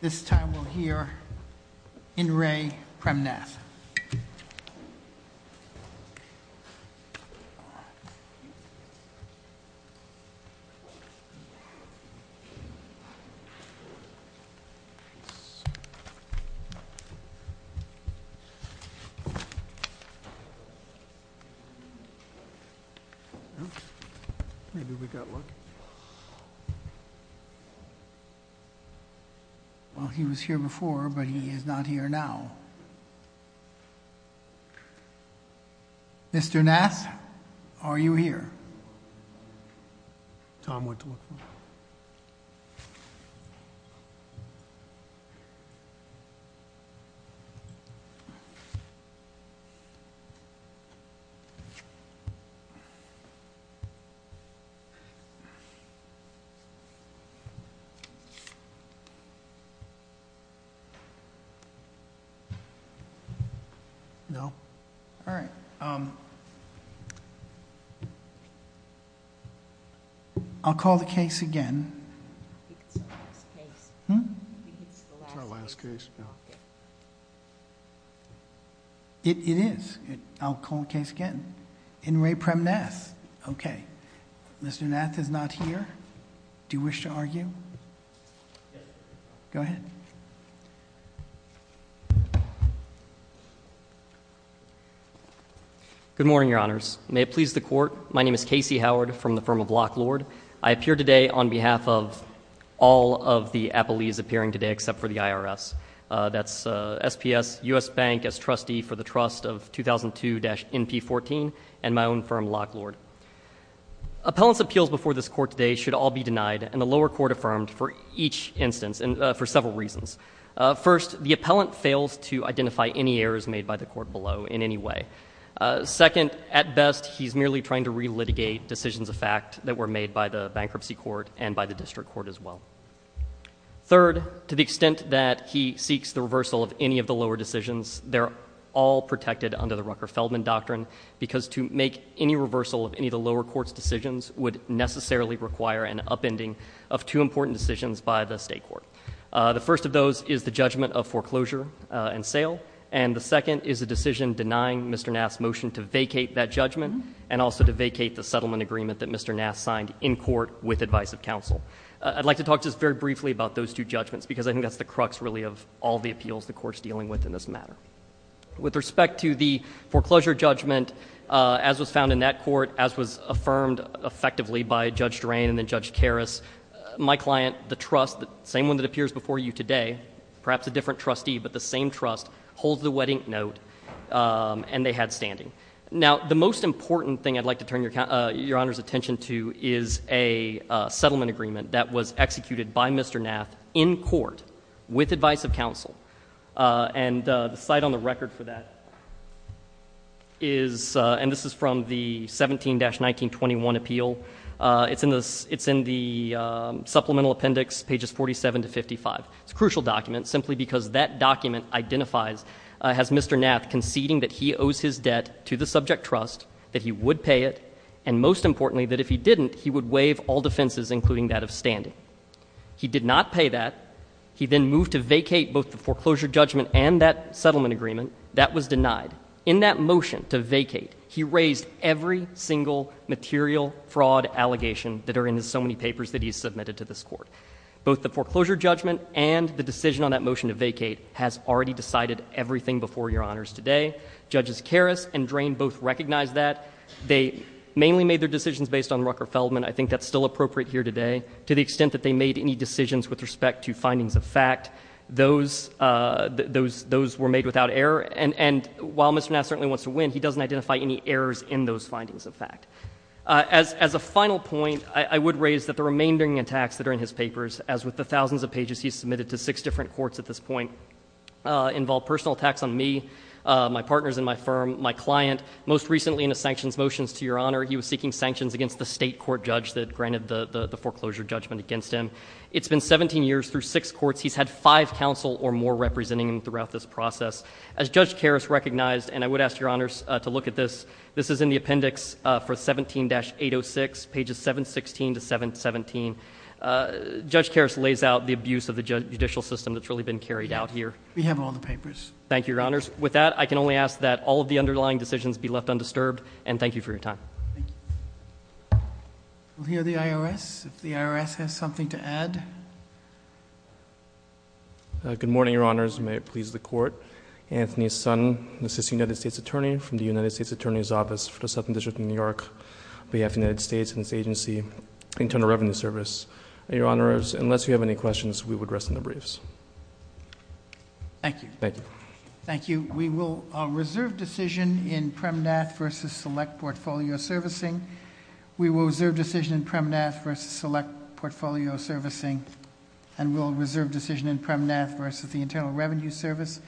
This time we'll hear in re Prem Nath Well, he was here before, but he is not here now. Mr. Nath, are you here? Tom, what to look for? I'll call the case again. It is. I'll call the case again. In re Prem Nath. Mr. Nath is not here. Do you wish to argue? Go ahead. Good morning, Your Honors. May it please the Court, my name is Casey Howard from the firm of Lock Lord. I appear today on behalf of all of the appellees appearing today except for the IRS. That's SPS, U.S. Bank as trustee for the trust of 2002-NP14, and my own firm, Lock Lord. Appellants' appeals before this Court today should all be denied and the lower court affirmed for each instance for several reasons. First, the appellant fails to identify any errors made by the court below in any way. Second, at best, he's merely trying to relitigate decisions of fact that were made by the bankruptcy court and by the district court as well. Third, to the extent that he seeks the reversal of any of the lower decisions, they're all protected under the Rucker-Feldman doctrine because to make any reversal of any of the lower court's decisions would necessarily require an upending of two important decisions by the state court. The first of those is the judgment of foreclosure and sale, and the second is a decision denying Mr. Nath's motion to vacate that judgment and also to vacate the settlement agreement that Mr. Nath signed in court with advice of counsel. I'd like to talk just very briefly about those two judgments because I think that's the crux really of all the appeals the Court's dealing with in this matter. With respect to the foreclosure judgment, as was found in that court, as was affirmed effectively by Judge Drain and then Judge Karras, my client, the trust, the same one that appears before you today, perhaps a different trustee, but the same trust, holds the wedding note and they had standing. Now, the most important thing I'd like to turn Your Honor's attention to is a settlement agreement that was executed by Mr. Nath in court with advice of counsel. And the site on the record for that is, and this is from the 17-1921 appeal. It's in the supplemental appendix, pages 47 to 55. It's a crucial document simply because that document identifies, has Mr. Nath conceding that he owes his debt to the subject trust, that he would pay it, and most importantly, that if he didn't, he would waive all defenses including that of standing. He did not pay that. He then moved to vacate both the foreclosure judgment and that settlement agreement. That was denied. In that motion to vacate, he raised every single material fraud allegation that are in his so many papers that he has submitted to this Court. Both the foreclosure judgment and the decision on that motion to vacate has already decided everything before Your Honors today. Judges Karras and Drain both recognize that. They mainly made their decisions based on Rucker-Feldman. I think that's still appropriate here today. To the extent that they made any decisions with respect to findings of fact, those were made without error. And while Mr. Nath certainly wants to win, he doesn't identify any errors in those findings of fact. As a final point, I would raise that the remaindering attacks that are in his papers, as with the thousands of pages he has submitted to six different courts at this point, involve personal attacks on me, my partners in my firm, my client. Most recently in his sanctions motions to Your Honor, he was seeking sanctions against the state court judge that granted the foreclosure judgment against him. It's been 17 years through six courts. He's had five counsel or more representing him throughout this process. As Judge Karras recognized, and I would ask Your Honors to look at this, this is in the appendix for 17-806, pages 716 to 717. Judge Karras lays out the abuse of the judicial system that's really been carried out here. We have it on the papers. Thank you, Your Honors. With that, I can only ask that all of the underlying decisions be left undisturbed. And thank you for your time. Thank you. We'll hear the IRS if the IRS has something to add. Good morning, Your Honors. May it please the Court. Anthony Sun, an assistant United States attorney from the United States Attorney's Office for the Southern District of New York, on behalf of the United States and its agency, Internal Revenue Service. Your Honors, unless you have any questions, we would rest in the briefs. Thank you. Thank you. Thank you. We will reserve decision in PremNath versus Select Portfolio Servicing. We will reserve decision in PremNath versus Select Portfolio Servicing. And we'll reserve decision in PremNath versus the Internal Revenue Service.